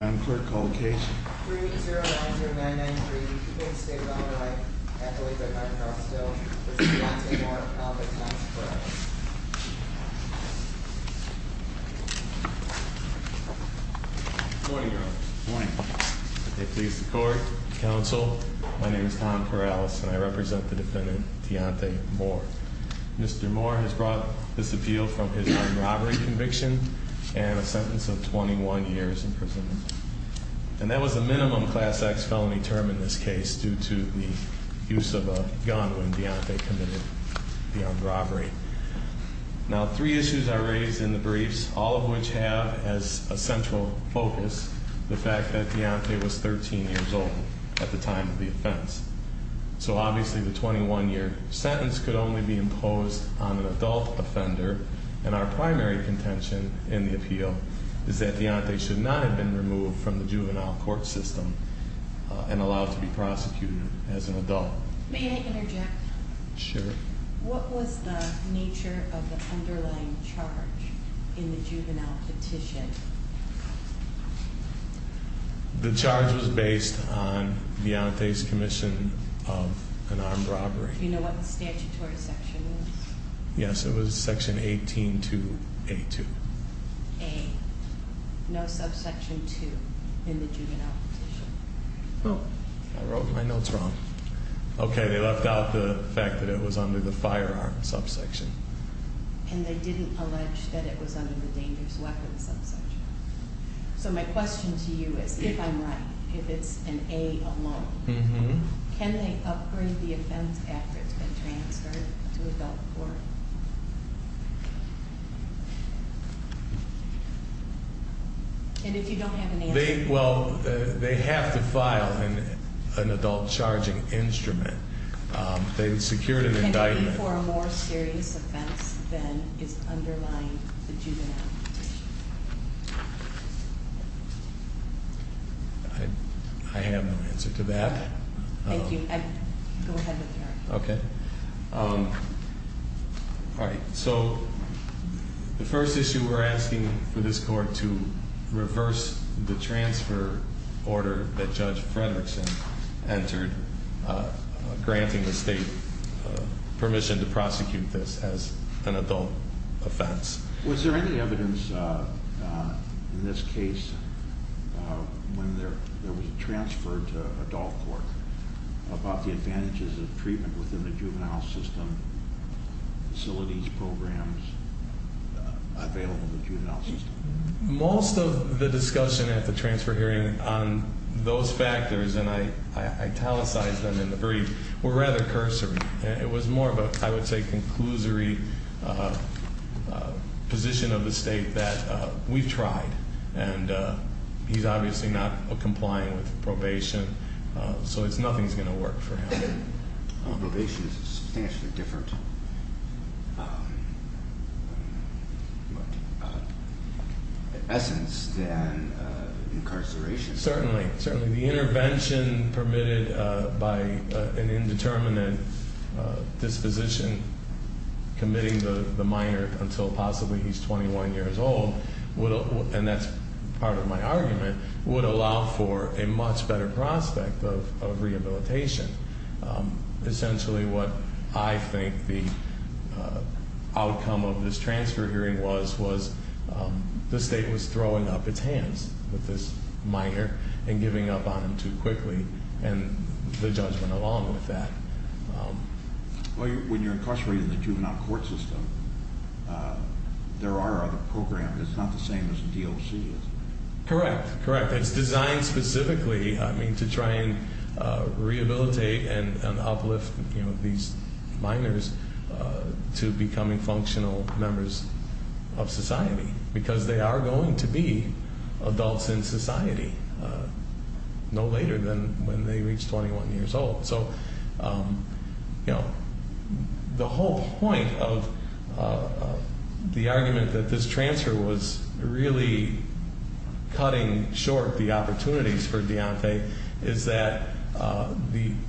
I'm clerk called cage. Morning. They please the court Council. My name is Tom Perales and I represent the defendant, Deontay Moore. Mr. Moore has brought this appeal from his And that was a minimum class X felony term in this case due to the use of a gun when Deontay committed the armed robbery. Now three issues are raised in the briefs, all of which have as a central focus the fact that Deontay was 13 years old at the time of the offense. So obviously the 21 year sentence could only be imposed on an adult offender. And our primary contention in the appeal is that Deontay should not have been removed from the juvenile court system and allowed to be prosecuted as an adult. May I interject? Sure. What was the nature of the underlying charge in the juvenile petition? The charge was based on Deontay's commission of an armed robbery. Do you know what the statutory section is? Yes, it was section 18 to A2. A, no subsection 2 in the juvenile petition. Oh, I wrote my notes wrong. Okay, they left out the fact that it was under the firearm subsection. And they didn't allege that it was under the dangerous weapons subsection. So my question to you is, if I'm right, if it's an A alone, can they upgrade the offense after it's been transferred to adult court? And if you don't have an answer. Well, they have to file an adult charging instrument. They secured an indictment. Are you looking for a more serious offense than is underlying the juvenile petition? I have no answer to that. Thank you. Go ahead with your argument. Okay. All right, so the first issue we're asking for this court to reverse the transfer order that Judge Fredrickson entered, granting the state permission to prosecute this as an adult offense. Was there any evidence in this case when there was a transfer to adult court about the advantages of treatment within the juvenile system, facilities, programs available in the juvenile system? Most of the discussion at the transfer hearing on those factors, and I italicized them in the brief, were rather cursory. It was more of a, I would say, conclusory position of the state that we've tried, and he's obviously not complying with probation, so nothing's going to work for him. Probation is a substantially different essence than incarceration. Certainly, certainly. The intervention permitted by an indeterminate disposition committing the minor until possibly he's 21 years old, and that's part of my argument, would allow for a much better prospect of rehabilitation. Essentially, what I think the outcome of this transfer hearing was, was the state was throwing up its hands with this minor and giving up on him too quickly, and the judgment along with that. Well, when you're incarcerated in the juvenile court system, there are other programs. It's not the same as the DOC is. Correct, correct. It's designed specifically, I mean, to try and rehabilitate and uplift these minors to becoming functional members of society. Because they are going to be adults in society no later than when they reach 21 years old. So, you know, the whole point of the argument that this transfer was really cutting short the opportunities for Deontay is that, and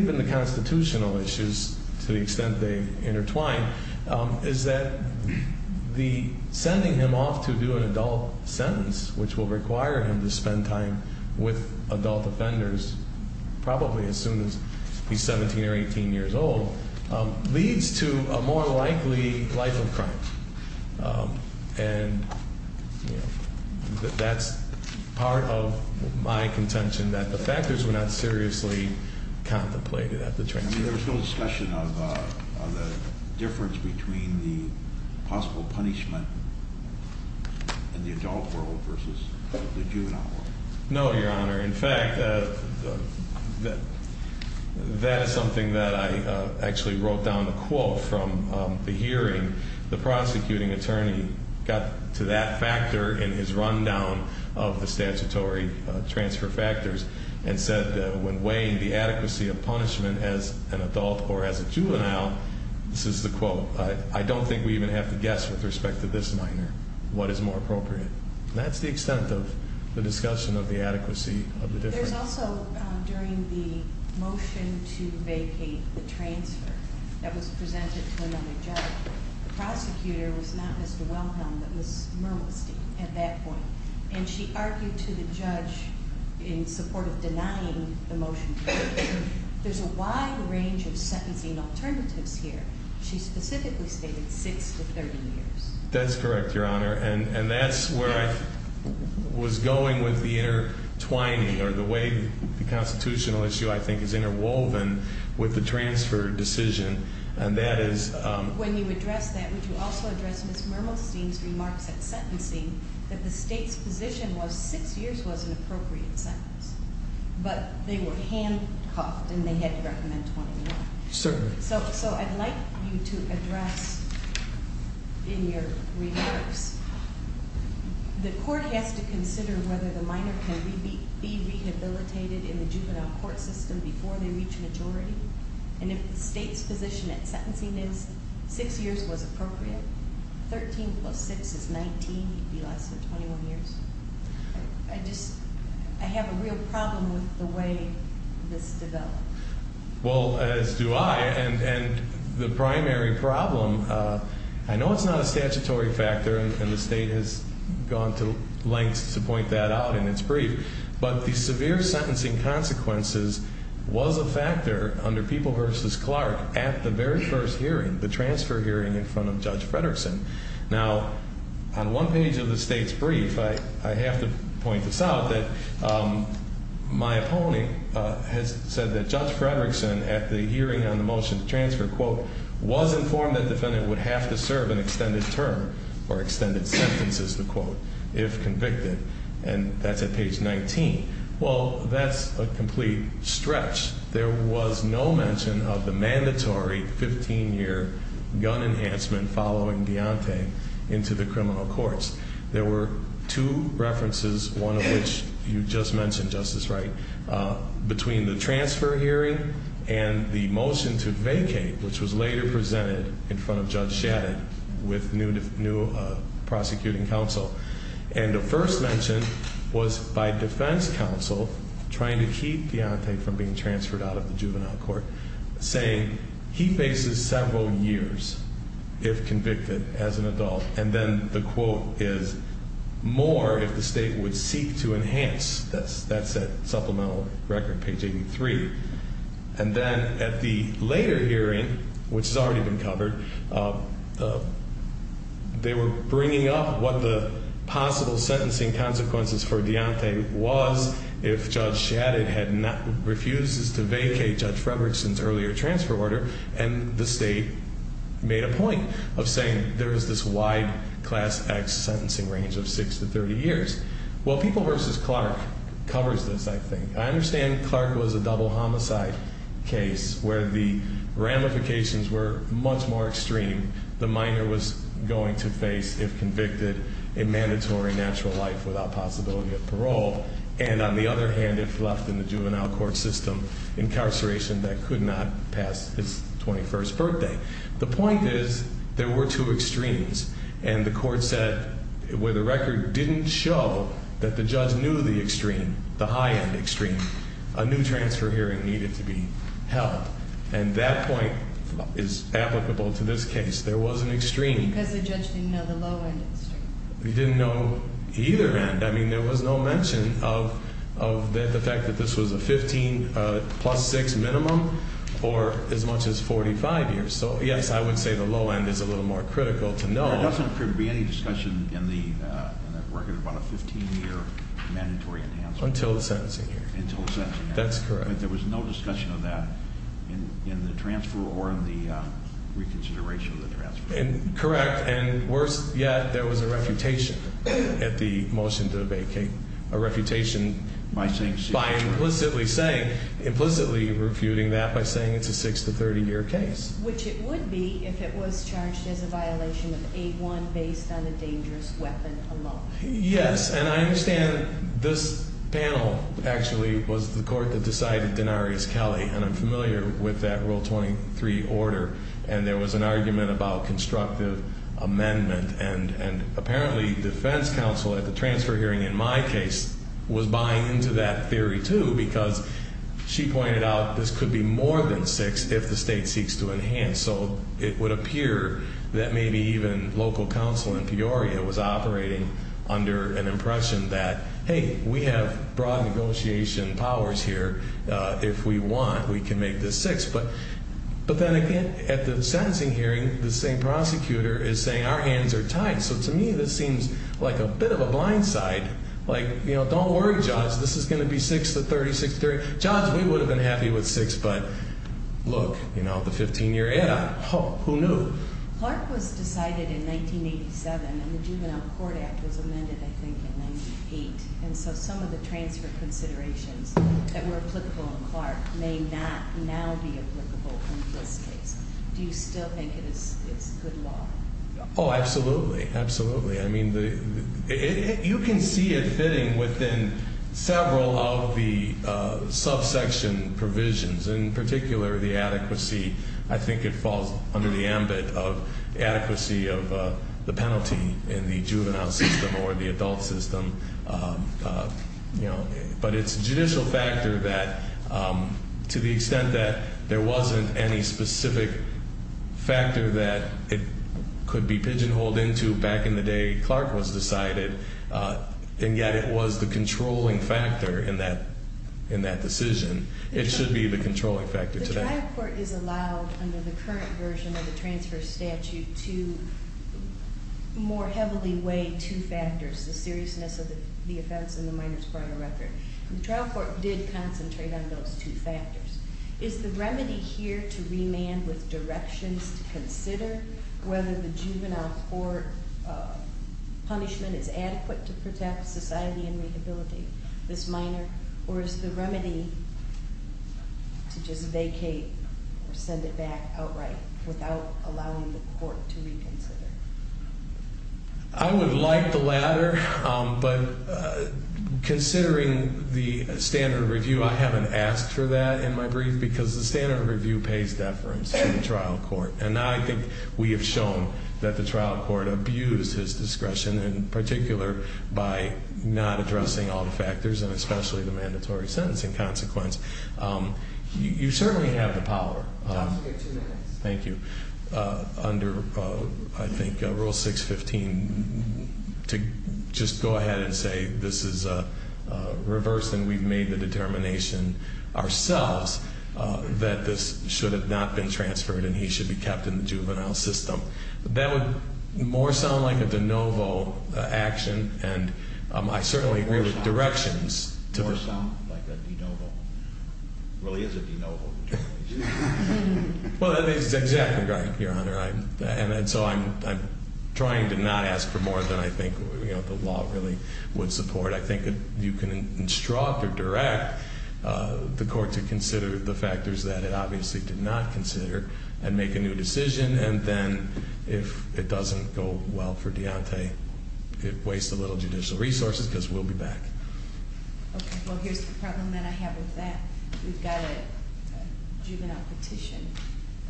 even the constitutional issues to the extent they intertwine, is that the sending him off to do an adult sentence, which will require him to spend time with adult offenders, probably as soon as he's 17 or 18 years old, leads to a more likely life of crime. And that's part of my contention that the factors were not seriously contemplated at the transfer. I mean, there was no discussion of the difference between the possible punishment in the adult world versus the juvenile world. No, Your Honor. In fact, that is something that I actually wrote down a quote from the hearing. The prosecuting attorney got to that factor in his rundown of the statutory transfer factors and said, when weighing the adequacy of punishment as an adult or as a juvenile, this is the quote, I don't think we even have to guess with respect to this minor what is more appropriate. That's the extent of the discussion of the adequacy of the difference. There's also, during the motion to vacate the transfer that was presented to another judge, the prosecutor was not Mr. Wilhelm, but Ms. Murliston at that point. And she argued to the judge in support of denying the motion. There's a wide range of sentencing alternatives here. She specifically stated six to 30 years. That's correct, Your Honor. And that's where I was going with the intertwining or the way the constitutional issue, I think, is interwoven with the transfer decision. And that is- When you address that, would you also address Ms. Murliston's remarks at sentencing, that the state's position was six years was an appropriate sentence. But they were handcuffed and they had to recommend 21. Certainly. So I'd like you to address in your remarks, the court has to consider whether the minor can be rehabilitated in the juvenile court system before they reach majority. And if the state's position at sentencing is six years was appropriate, 13 plus 6 is 19, it would be less than 21 years. I just, I have a real problem with the way this developed. Well, as do I. And the primary problem, I know it's not a statutory factor. And the state has gone to lengths to point that out in its brief. But the severe sentencing consequences was a factor under People v. Clark at the very first hearing, the transfer hearing in front of Judge Frederickson. Now, on one page of the state's brief, I have to point this out, that my opponent has said that Judge Frederickson, at the hearing on the motion to transfer, quote, was informed that defendant would have to serve an extended term or extended sentences, to quote, if convicted. And that's at page 19. Well, that's a complete stretch. There was no mention of the mandatory 15-year gun enhancement following Deontay into the criminal courts. There were two references, one of which you just mentioned, Justice Wright, between the transfer hearing and the motion to vacate, which was later presented in front of Judge Shadid with new prosecuting counsel. And the first mention was by defense counsel trying to keep Deontay from being transferred out of the juvenile court, saying he faces several years if convicted as an adult. And then the quote is, more if the state would seek to enhance. That's that supplemental record, page 83. And then at the later hearing, which has already been covered, they were bringing up what the possible sentencing consequences for Deontay was if Judge Shadid refuses to vacate Judge Frederickson's earlier transfer order. And the state made a point of saying there is this wide Class X sentencing range of 6 to 30 years. Well, People v. Clark covers this, I think. I understand Clark was a double homicide case where the ramifications were much more extreme. The minor was going to face, if convicted, a mandatory natural life without possibility of parole. And on the other hand, if left in the juvenile court system, incarceration that could not pass his 21st birthday. The point is, there were two extremes. And the court said, where the record didn't show that the judge knew the extreme, the high-end extreme, a new transfer hearing needed to be held. And that point is applicable to this case. There was an extreme. Because the judge didn't know the low-end extreme. He didn't know either end. I mean, there was no mention of the fact that this was a 15 plus 6 minimum or as much as 45 years. So, yes, I would say the low end is a little more critical to know. There doesn't appear to be any discussion in the record about a 15-year mandatory enhancement. Until the sentencing hearing. Until the sentencing hearing. That's correct. There was no discussion of that in the transfer or in the reconsideration of the transfer. Correct. And worse yet, there was a refutation at the motion to abate Kate. A refutation by implicitly saying, implicitly refuting that by saying it's a 6- to 30-year case. Which it would be if it was charged as a violation of 8-1 based on a dangerous weapon alone. Yes. And I understand this panel actually was the court that decided Denarius Kelly. And I'm familiar with that Rule 23 order. And there was an argument about constructive amendment. And apparently defense counsel at the transfer hearing in my case was buying into that theory too. Because she pointed out this could be more than 6 if the state seeks to enhance. So, it would appear that maybe even local counsel in Peoria was operating under an impression that, Hey, we have broad negotiation powers here. If we want, we can make this 6. But then again, at the sentencing hearing, the same prosecutor is saying our hands are tied. So, to me, this seems like a bit of a blind side. Like, you know, don't worry, Judge. This is going to be 6-to-30, 6-to-30. Judge, we would have been happy with 6. But look, you know, the 15-year add-on. Who knew? Clark was decided in 1987. And the Juvenile Court Act was amended, I think, in 1988. And so some of the transfer considerations that were applicable in Clark may not now be applicable in this case. Do you still think it is good law? Oh, absolutely. Absolutely. I mean, you can see it fitting within several of the subsection provisions. In particular, the adequacy. I think it falls under the ambit of adequacy of the penalty in the juvenile system or the adult system. But it's a judicial factor that, to the extent that there wasn't any specific factor that it could be pigeonholed into back in the day Clark was decided, and yet it was the controlling factor in that decision, it should be the controlling factor today. The trial court is allowed, under the current version of the transfer statute, to more heavily weigh two factors, the seriousness of the offense and the minor's criminal record. The trial court did concentrate on those two factors. Is the remedy here to remand with directions to consider whether the juvenile court punishment is adequate to protect society and rehabilitate this minor? Or is the remedy to just vacate or send it back outright without allowing the court to reconsider? I would like the latter. But considering the standard of review, I haven't asked for that in my brief because the standard of review pays deference to the trial court. And I think we have shown that the trial court abused his discretion, in particular by not addressing all the factors, and especially the mandatory sentencing consequence. You certainly have the power. I'll give you two minutes. Thank you. Under, I think, Rule 615, to just go ahead and say this is reversed and we've made the determination ourselves that this should have not been transferred and he should be kept in the juvenile system. That would more sound like a de novo action. And I certainly agree with directions. More sound like a de novo. It really is a de novo. Well, that is exactly right, Your Honor. And so I'm trying to not ask for more than I think the law really would support. I think you can instruct or direct the court to consider the factors that it obviously did not consider and make a new decision. And then if it doesn't go well for Deontay, it wastes a little judicial resources because we'll be back. Okay. Well, here's the problem that I have with that. We've got a juvenile petition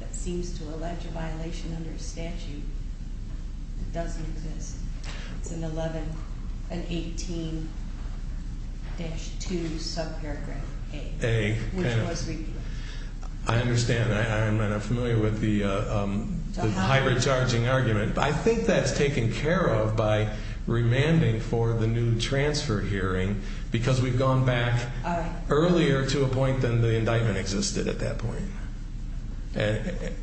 that seems to allege a violation under a statute that doesn't exist. It's an 11, an 18-2 subparagraph A. A. Which was repealed. I understand. I'm not familiar with the hybrid charging argument. But I think that's taken care of by remanding for the new transfer hearing because we've gone back earlier to a point than the indictment existed at that point. The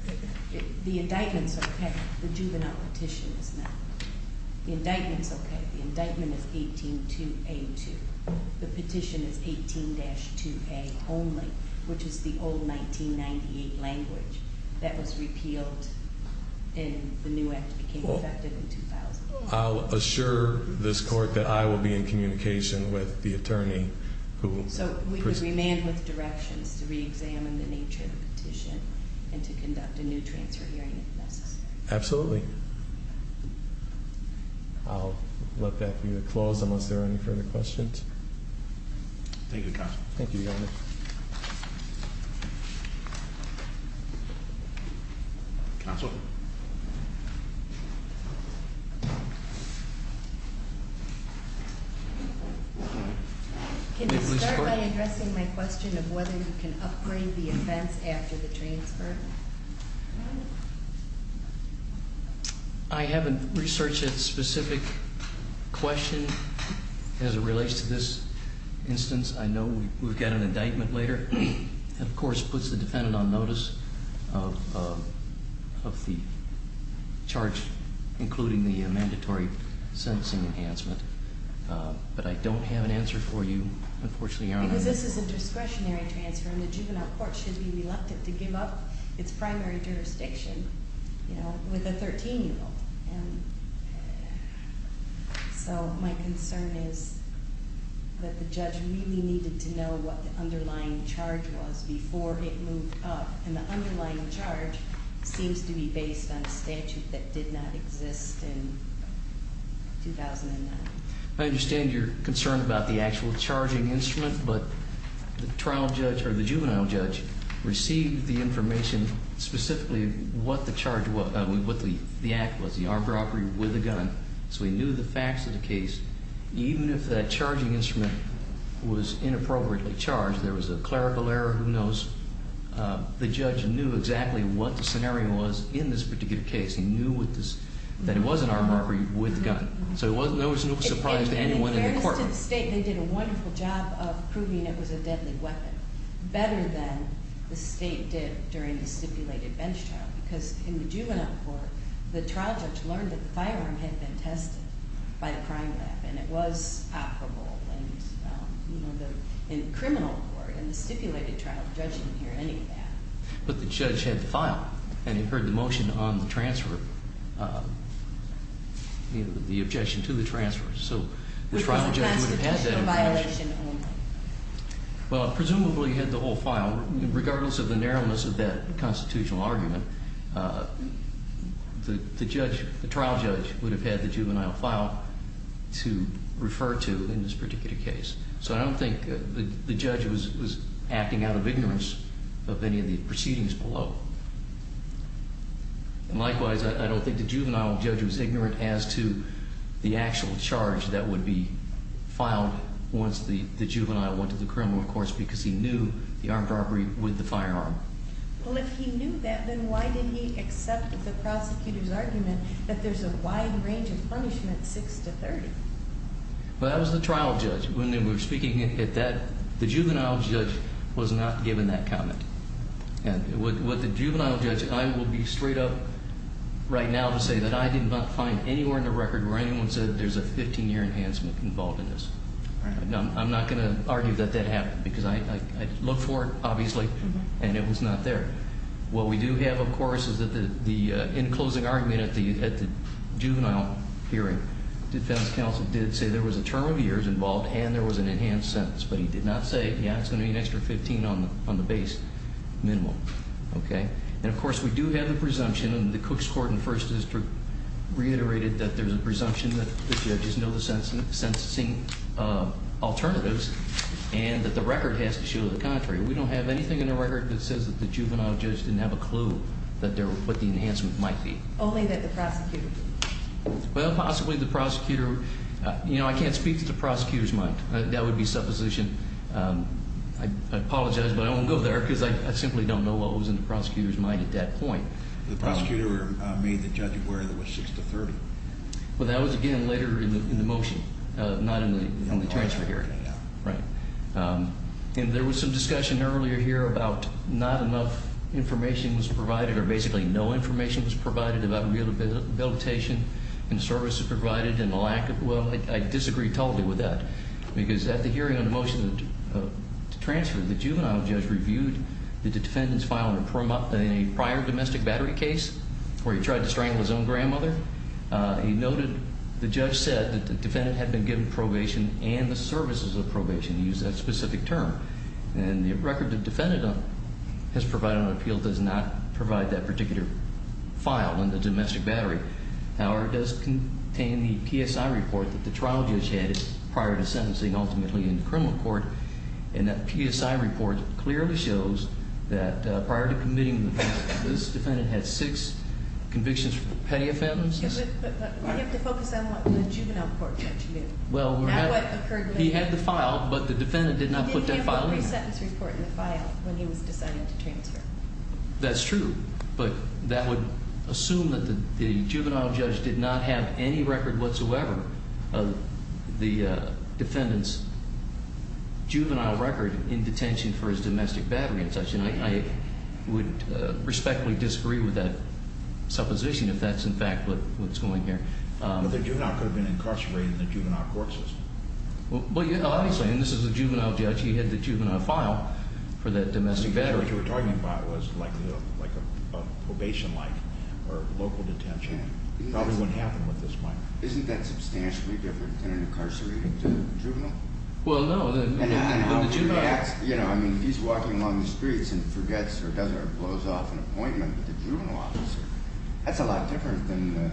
indictment's okay. The juvenile petition is not. The indictment's okay. The indictment is 18-2A2. The petition is 18-2A only, which is the old 1998 language that was repealed and the new act became effective in 2000. I'll assure this court that I will be in communication with the attorney who- So we can remain with directions to reexamine the nature of the petition and to conduct a new transfer hearing if necessary. Absolutely. I'll let that be the clause unless there are any further questions. Thank you, counsel. Thank you, Your Honor. Counsel? Can you start by addressing my question of whether you can upgrade the offense after the transfer? I haven't researched that specific question as it relates to this instance. I know we've got an indictment later. That, of course, puts the defendant on notice of the charge, including the mandatory sentencing enhancement. But I don't have an answer for you, unfortunately, Your Honor. Because this is a discretionary transfer and the juvenile court should be reluctant to give up its primary jurisdiction with a 13-year-old. And so my concern is that the judge really needed to know what the underlying charge was before it moved up. And the underlying charge seems to be based on a statute that did not exist in 2009. I understand your concern about the actual charging instrument. But the juvenile judge received the information specifically what the act was, the armed robbery with a gun. So he knew the facts of the case. Even if that charging instrument was inappropriately charged, there was a clerical error. Who knows? The judge knew exactly what the scenario was in this particular case. He knew that it was an armed robbery with a gun. So there was no surprise to anyone in the courtroom. In fairness to the state, they did a wonderful job of proving it was a deadly weapon, better than the state did during the stipulated bench trial. Because in the juvenile court, the trial judge learned that the firearm had been tested by the crime lab. And it was palpable in the criminal court. In the stipulated trial, the judge didn't hear any of that. But the judge had the file, and he heard the motion on the transfer, the objection to the transfer. So the trial judge would have had that objection. Was it a constitutional violation only? Well, it presumably had the whole file. Regardless of the narrowness of that constitutional argument, the trial judge would have had the juvenile file to refer to in this particular case. So I don't think the judge was acting out of ignorance of any of the proceedings below. And likewise, I don't think the juvenile judge was ignorant as to the actual charge that would be filed once the juvenile went to the criminal, of course, because he knew the armed robbery with the firearm. Well, if he knew that, then why did he accept the prosecutor's argument that there's a wide range of punishment, 6 to 30? Well, that was the trial judge. When we were speaking at that, the juvenile judge was not given that comment. With the juvenile judge, I will be straight up right now to say that I did not find anywhere in the record where anyone said there's a 15-year enhancement involved in this. I'm not going to argue that that happened because I looked for it, obviously, and it was not there. What we do have, of course, is that the in-closing argument at the juvenile hearing, defense counsel did say there was a term of years involved and there was an enhanced sentence. But he did not say, yeah, it's going to be an extra 15 on the base minimum. Okay? And, of course, we do have the presumption, and the Cooks Court and First District reiterated that there's a presumption that the judges know the sentencing alternatives and that the record has to show the contrary. We don't have anything in the record that says that the juvenile judge didn't have a clue what the enhancement might be. Only that the prosecutor did. Well, possibly the prosecutor. You know, I can't speak to the prosecutor's mind. That would be supposition. I apologize, but I won't go there because I simply don't know what was in the prosecutor's mind at that point. The prosecutor made the judge aware there was 6 to 30. Well, that was, again, later in the motion, not in the transfer hearing. Right. And there was some discussion earlier here about not enough information was provided or basically no information was provided about rehabilitation and services provided and the lack of. Well, I disagree totally with that because at the hearing on the motion to transfer, the juvenile judge reviewed the defendant's file in a prior domestic battery case where he tried to strangle his own grandmother. He noted the judge said that the defendant had been given probation and the services of probation. He used that specific term. And the record the defendant has provided on appeal does not provide that particular file in the domestic battery. However, it does contain the PSI report that the trial judge had prior to sentencing ultimately in the criminal court. And that PSI report clearly shows that prior to committing the offense, this defendant had six convictions for petty offenses. But we have to focus on what the juvenile court judge knew, not what occurred later. He had the file, but the defendant did not put that file in. He didn't have a resentence report in the file when he was deciding to transfer. That's true. But that would assume that the juvenile judge did not have any record whatsoever of the defendant's juvenile record in detention for his domestic battery and such. And I would respectfully disagree with that supposition if that's in fact what's going here. But the juvenile could have been incarcerated in the juvenile court system. Well, obviously. And this is a juvenile judge. He had the juvenile file for that domestic battery. What you're talking about was like a probation-like or local detention. Probably wouldn't happen with this one. Isn't that substantially different than an incarcerated juvenile? Well, no. I mean, he's walking along the streets and forgets or doesn't or blows off an appointment with a juvenile officer. That's a lot different than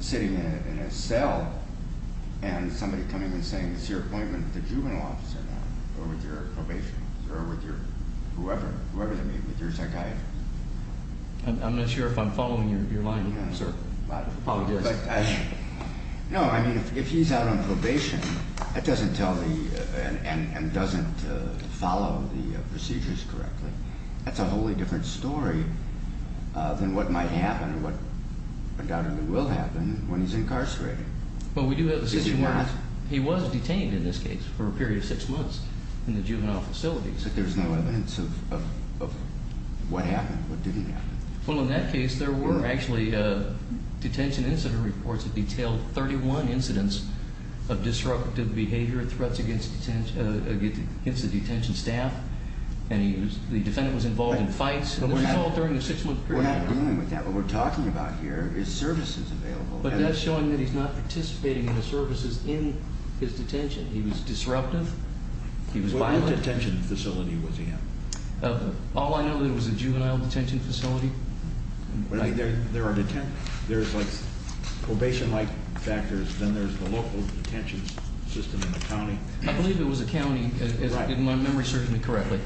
sitting in a cell and somebody coming and saying, I'm not sure if I'm following your line, sir. No, I mean, if he's out on probation, that doesn't tell me and doesn't follow the procedures correctly. That's a wholly different story than what might happen and what undoubtedly will happen when he's incarcerated. Well, we do have a situation where he was detained in this case for a period of six months in the juvenile facility. But there's no evidence of what happened, what didn't happen. Well, in that case, there were actually detention incident reports that detailed 31 incidents of disruptive behavior, threats against the detention staff, and the defendant was involved in fights. And this was all during the six-month period. We're not dealing with that. What we're talking about here is services available. But that's showing that he's not participating in the services in his detention. He was disruptive. He was violent. What detention facility was he in? All I know that it was a juvenile detention facility. There's like probation-like factors. Then there's the local detention system in the county. I believe it was a county, if my memory serves me correctly.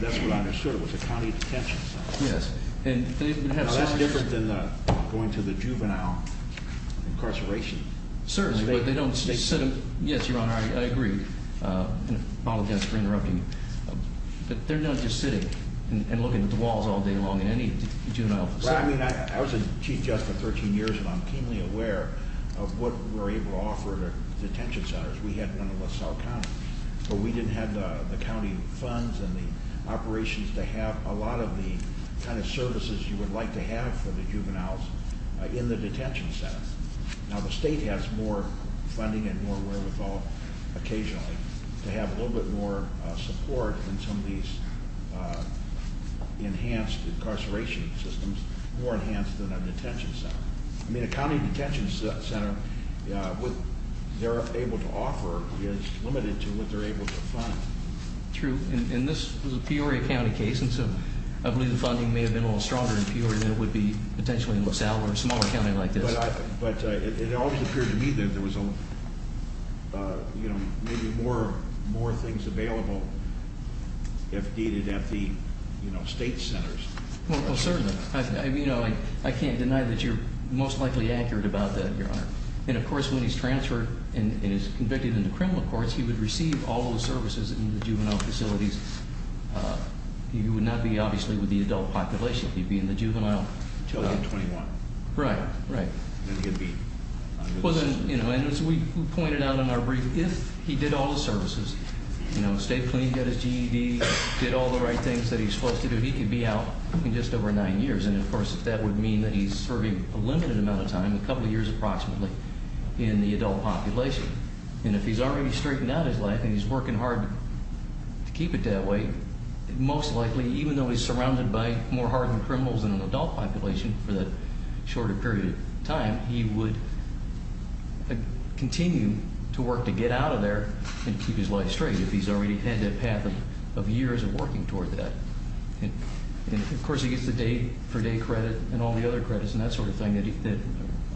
That's what I understood. It was a county detention center. Yes. Now, that's different than going to the juvenile incarceration. Certainly. But they don't- Yes, Your Honor, I agree. Apologize for interrupting. But they're not just sitting and looking at the walls all day long in any juvenile facility. Well, I mean, I was a chief judge for 13 years, and I'm keenly aware of what we're able to offer to detention centers. We had one in LaSalle County. But we didn't have the county funds and the operations to have a lot of the kind of services you would like to have for the juveniles in the detention center. Now, the state has more funding and more wherewithal occasionally to have a little bit more support in some of these enhanced incarceration systems, more enhanced than a detention center. I mean, a county detention center, what they're able to offer is limited to what they're able to fund. True. And this was a Peoria County case, and so I believe the funding may have been a little stronger in Peoria than it would be potentially in LaSalle or a smaller county like this. But it always appeared to me that there was maybe more things available if needed at the state centers. Well, certainly. I can't deny that you're most likely accurate about that, Your Honor. And, of course, when he's transferred and is convicted in the criminal courts, he would receive all the services in the juvenile facilities. He would not be, obviously, with the adult population. He'd be in the juvenile- Until he's 21. Right, right. Then he'd be- And as we pointed out in our brief, if he did all the services, stayed clean, got his GED, did all the right things that he was supposed to do, he could be out in just over nine years. And, of course, that would mean that he's serving a limited amount of time, a couple years approximately, in the adult population. And if he's already straightened out his life and he's working hard to keep it that way, most likely, even though he's surrounded by more hardened criminals than an adult population for that shorter period of time, he would continue to work to get out of there and keep his life straight. If he's already had that path of years of working toward that. And, of course, he gets the day-for-day credit and all the other credits and that sort of thing that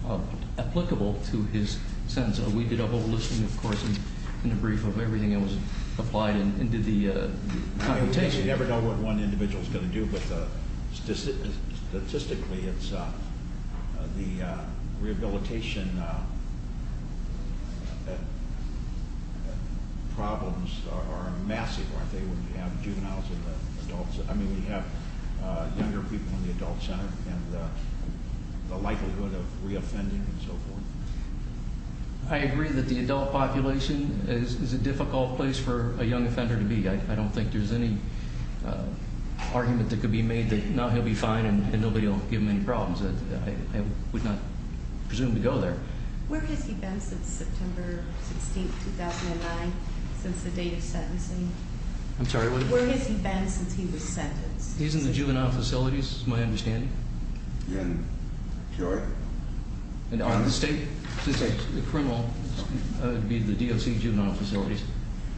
are applicable to his sentence. We did a whole listing, of course, in the brief of everything that was applied and did the computation. We never know what one individual is going to do, but statistically, the rehabilitation problems are massive, aren't they, when you have juveniles in the adult- I mean, when you have younger people in the adult center and the likelihood of reoffending and so forth. I agree that the adult population is a difficult place for a young offender to be. I don't think there's any argument that could be made that, no, he'll be fine and nobody will give him any problems. I would not presume to go there. Where has he been since September 16, 2009, since the date of sentencing? I'm sorry, what? Where has he been since he was sentenced? He's in the juvenile facilities, is my understanding. In Cure? No, in the state. The criminal would be the DOC juvenile facilities.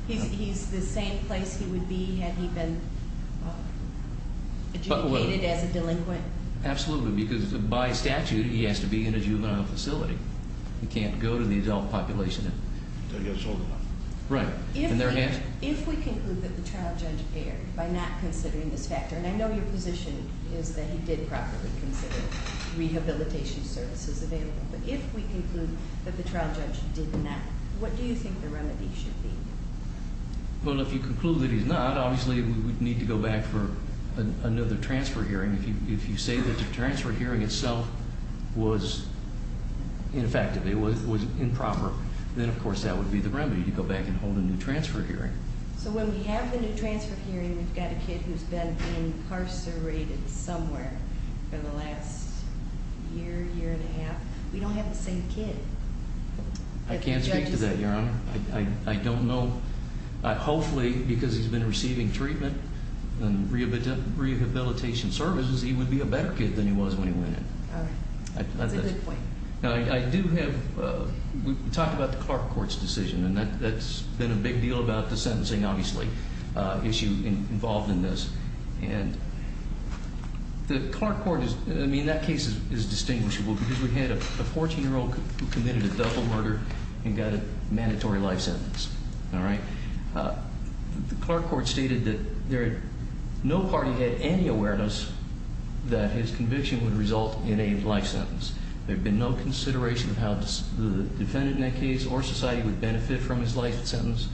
He's the same place he would be had he been adjudicated as a delinquent? Absolutely, because by statute, he has to be in a juvenile facility. He can't go to the adult population until he gets old enough. Right. If we conclude that the trial judge erred by not considering this factor, and I know your position is that he did properly consider rehabilitation services available, but if we conclude that the trial judge did not, what do you think the remedy should be? Well, if you conclude that he's not, obviously we would need to go back for another transfer hearing. If you say that the transfer hearing itself was ineffective, it was improper, then of course that would be the remedy, to go back and hold a new transfer hearing. So when we have the new transfer hearing, we've got a kid who's been incarcerated somewhere for the last year, year and a half. We don't have the same kid. I can't speak to that, Your Honor. I don't know. Hopefully, because he's been receiving treatment and rehabilitation services, he would be a better kid than he was when he went in. All right. That's a good point. Now, I do have – we talked about the Clark Court's decision, and that's been a big deal about the sentencing, obviously, issue involved in this. And the Clark Court is – I mean, that case is distinguishable because we had a 14-year-old who committed a double murder and got a mandatory life sentence. All right. The Clark Court stated that no party had any awareness that his conviction would result in a life sentence. There had been no consideration of how the defendant in that case or society would benefit from his life sentence.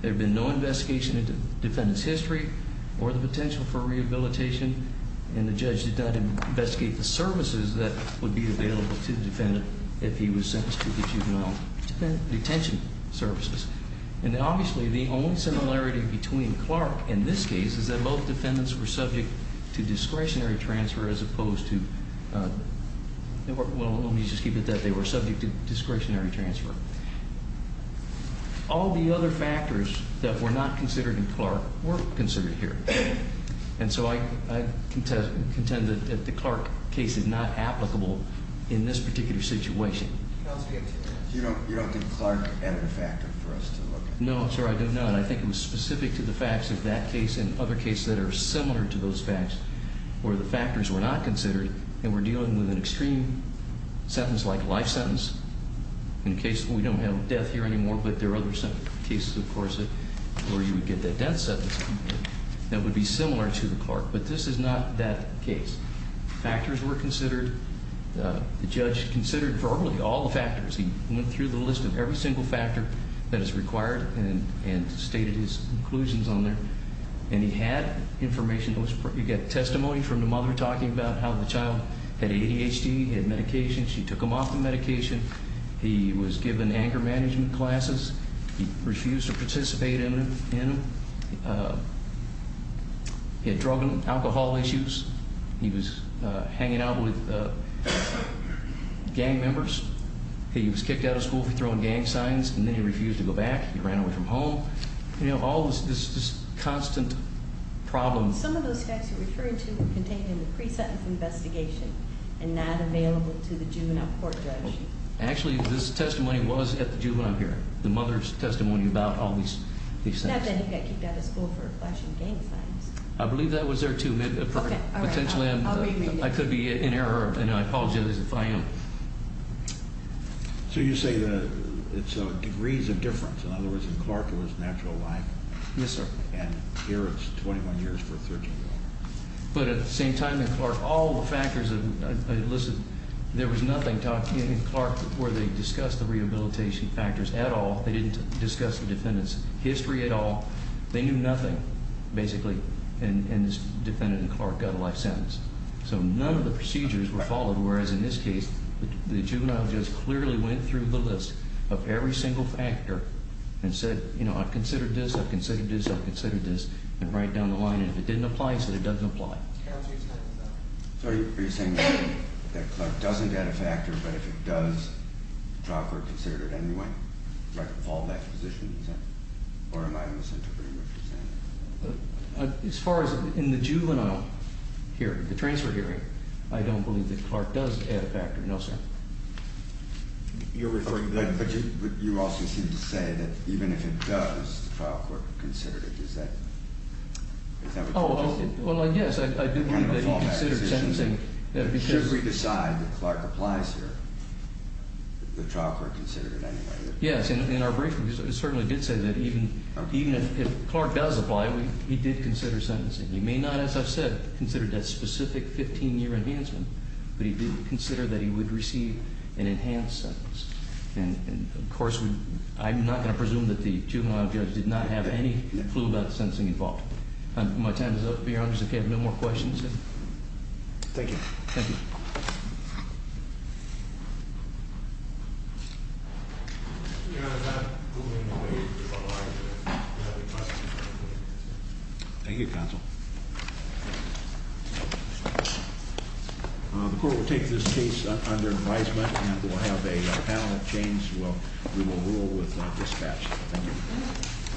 There had been no investigation into defendant's history or the potential for rehabilitation. And the judge did not investigate the services that would be available to the defendant if he was sentenced to the juvenile detention services. And obviously, the only similarity between Clark and this case is that both defendants were subject to discretionary transfer as opposed to – well, let me just keep it that they were subject to discretionary transfer. All the other factors that were not considered in Clark were considered here. And so I contend that the Clark case is not applicable in this particular situation. You don't think Clark added a factor for us to look at? No, sir, I don't know. And I think it was specific to the facts of that case and other cases that are similar to those facts where the factors were not considered and we're dealing with an extreme sentence like life sentence. In case – we don't have death here anymore, but there are other cases, of course, where you would get that death sentence that would be similar to the Clark. But this is not that case. Factors were considered. The judge considered probably all the factors. He went through the list of every single factor that is required and stated his conclusions on there. And he had information. He got testimony from the mother talking about how the child had ADHD, had medication. She took him off the medication. He was given anger management classes. He refused to participate in them. He had drug and alcohol issues. He was hanging out with gang members. He was kicked out of school for throwing gang signs, and then he refused to go back. He ran away from home. You know, all this constant problem. Some of those facts you're referring to were contained in the pre-sentence investigation and not available to the juvenile court judge. Actually, this testimony was at the juvenile hearing, the mother's testimony about all these things. Not that he got kicked out of school for flashing gang signs. I believe that was there, too. Potentially I could be in error, and I apologize if I am. So you say it's degrees of difference. In other words, in Clark it was natural life. Yes, sir. And here it's 21 years for a 13-year-old. But at the same time in Clark, all the factors, there was nothing taught in Clark where they discussed the rehabilitation factors at all. They didn't discuss the defendant's history at all. They knew nothing, basically, and this defendant in Clark got a life sentence. So none of the procedures were followed, whereas in this case, the juvenile judge clearly went through the list of every single factor and said, you know, I've considered this, I've considered this, I've considered this, and right down the line, if it didn't apply, he said it doesn't apply. So are you saying that Clark doesn't add a factor, but if it does, the trial court considered it anyway? Like a fallback position, you said? Or am I misinterpreting what you're saying? As far as in the juvenile hearing, the transfer hearing, I don't believe that Clark does add a factor, no, sir. You're referring to that, but you also seem to say that even if it does, the trial court considered it. Is that what you're saying? No, well, yes, I do believe that he considered sentencing because- Should we decide that Clark applies here, the trial court considered it anyway? Yes, in our briefing, it certainly did say that even if Clark does apply, he did consider sentencing. He may not, as I've said, consider that specific 15-year enhancement, but he did consider that he would receive an enhanced sentence. And, of course, I'm not going to presume that the juvenile judge did not have any clue about the sentencing involved. My time is up, Your Honor, so if you have no more questions. Thank you. Thank you. Thank you, counsel. The court will take this case under advisement and we'll have a panel change. We will rule with dispatch. Thank you.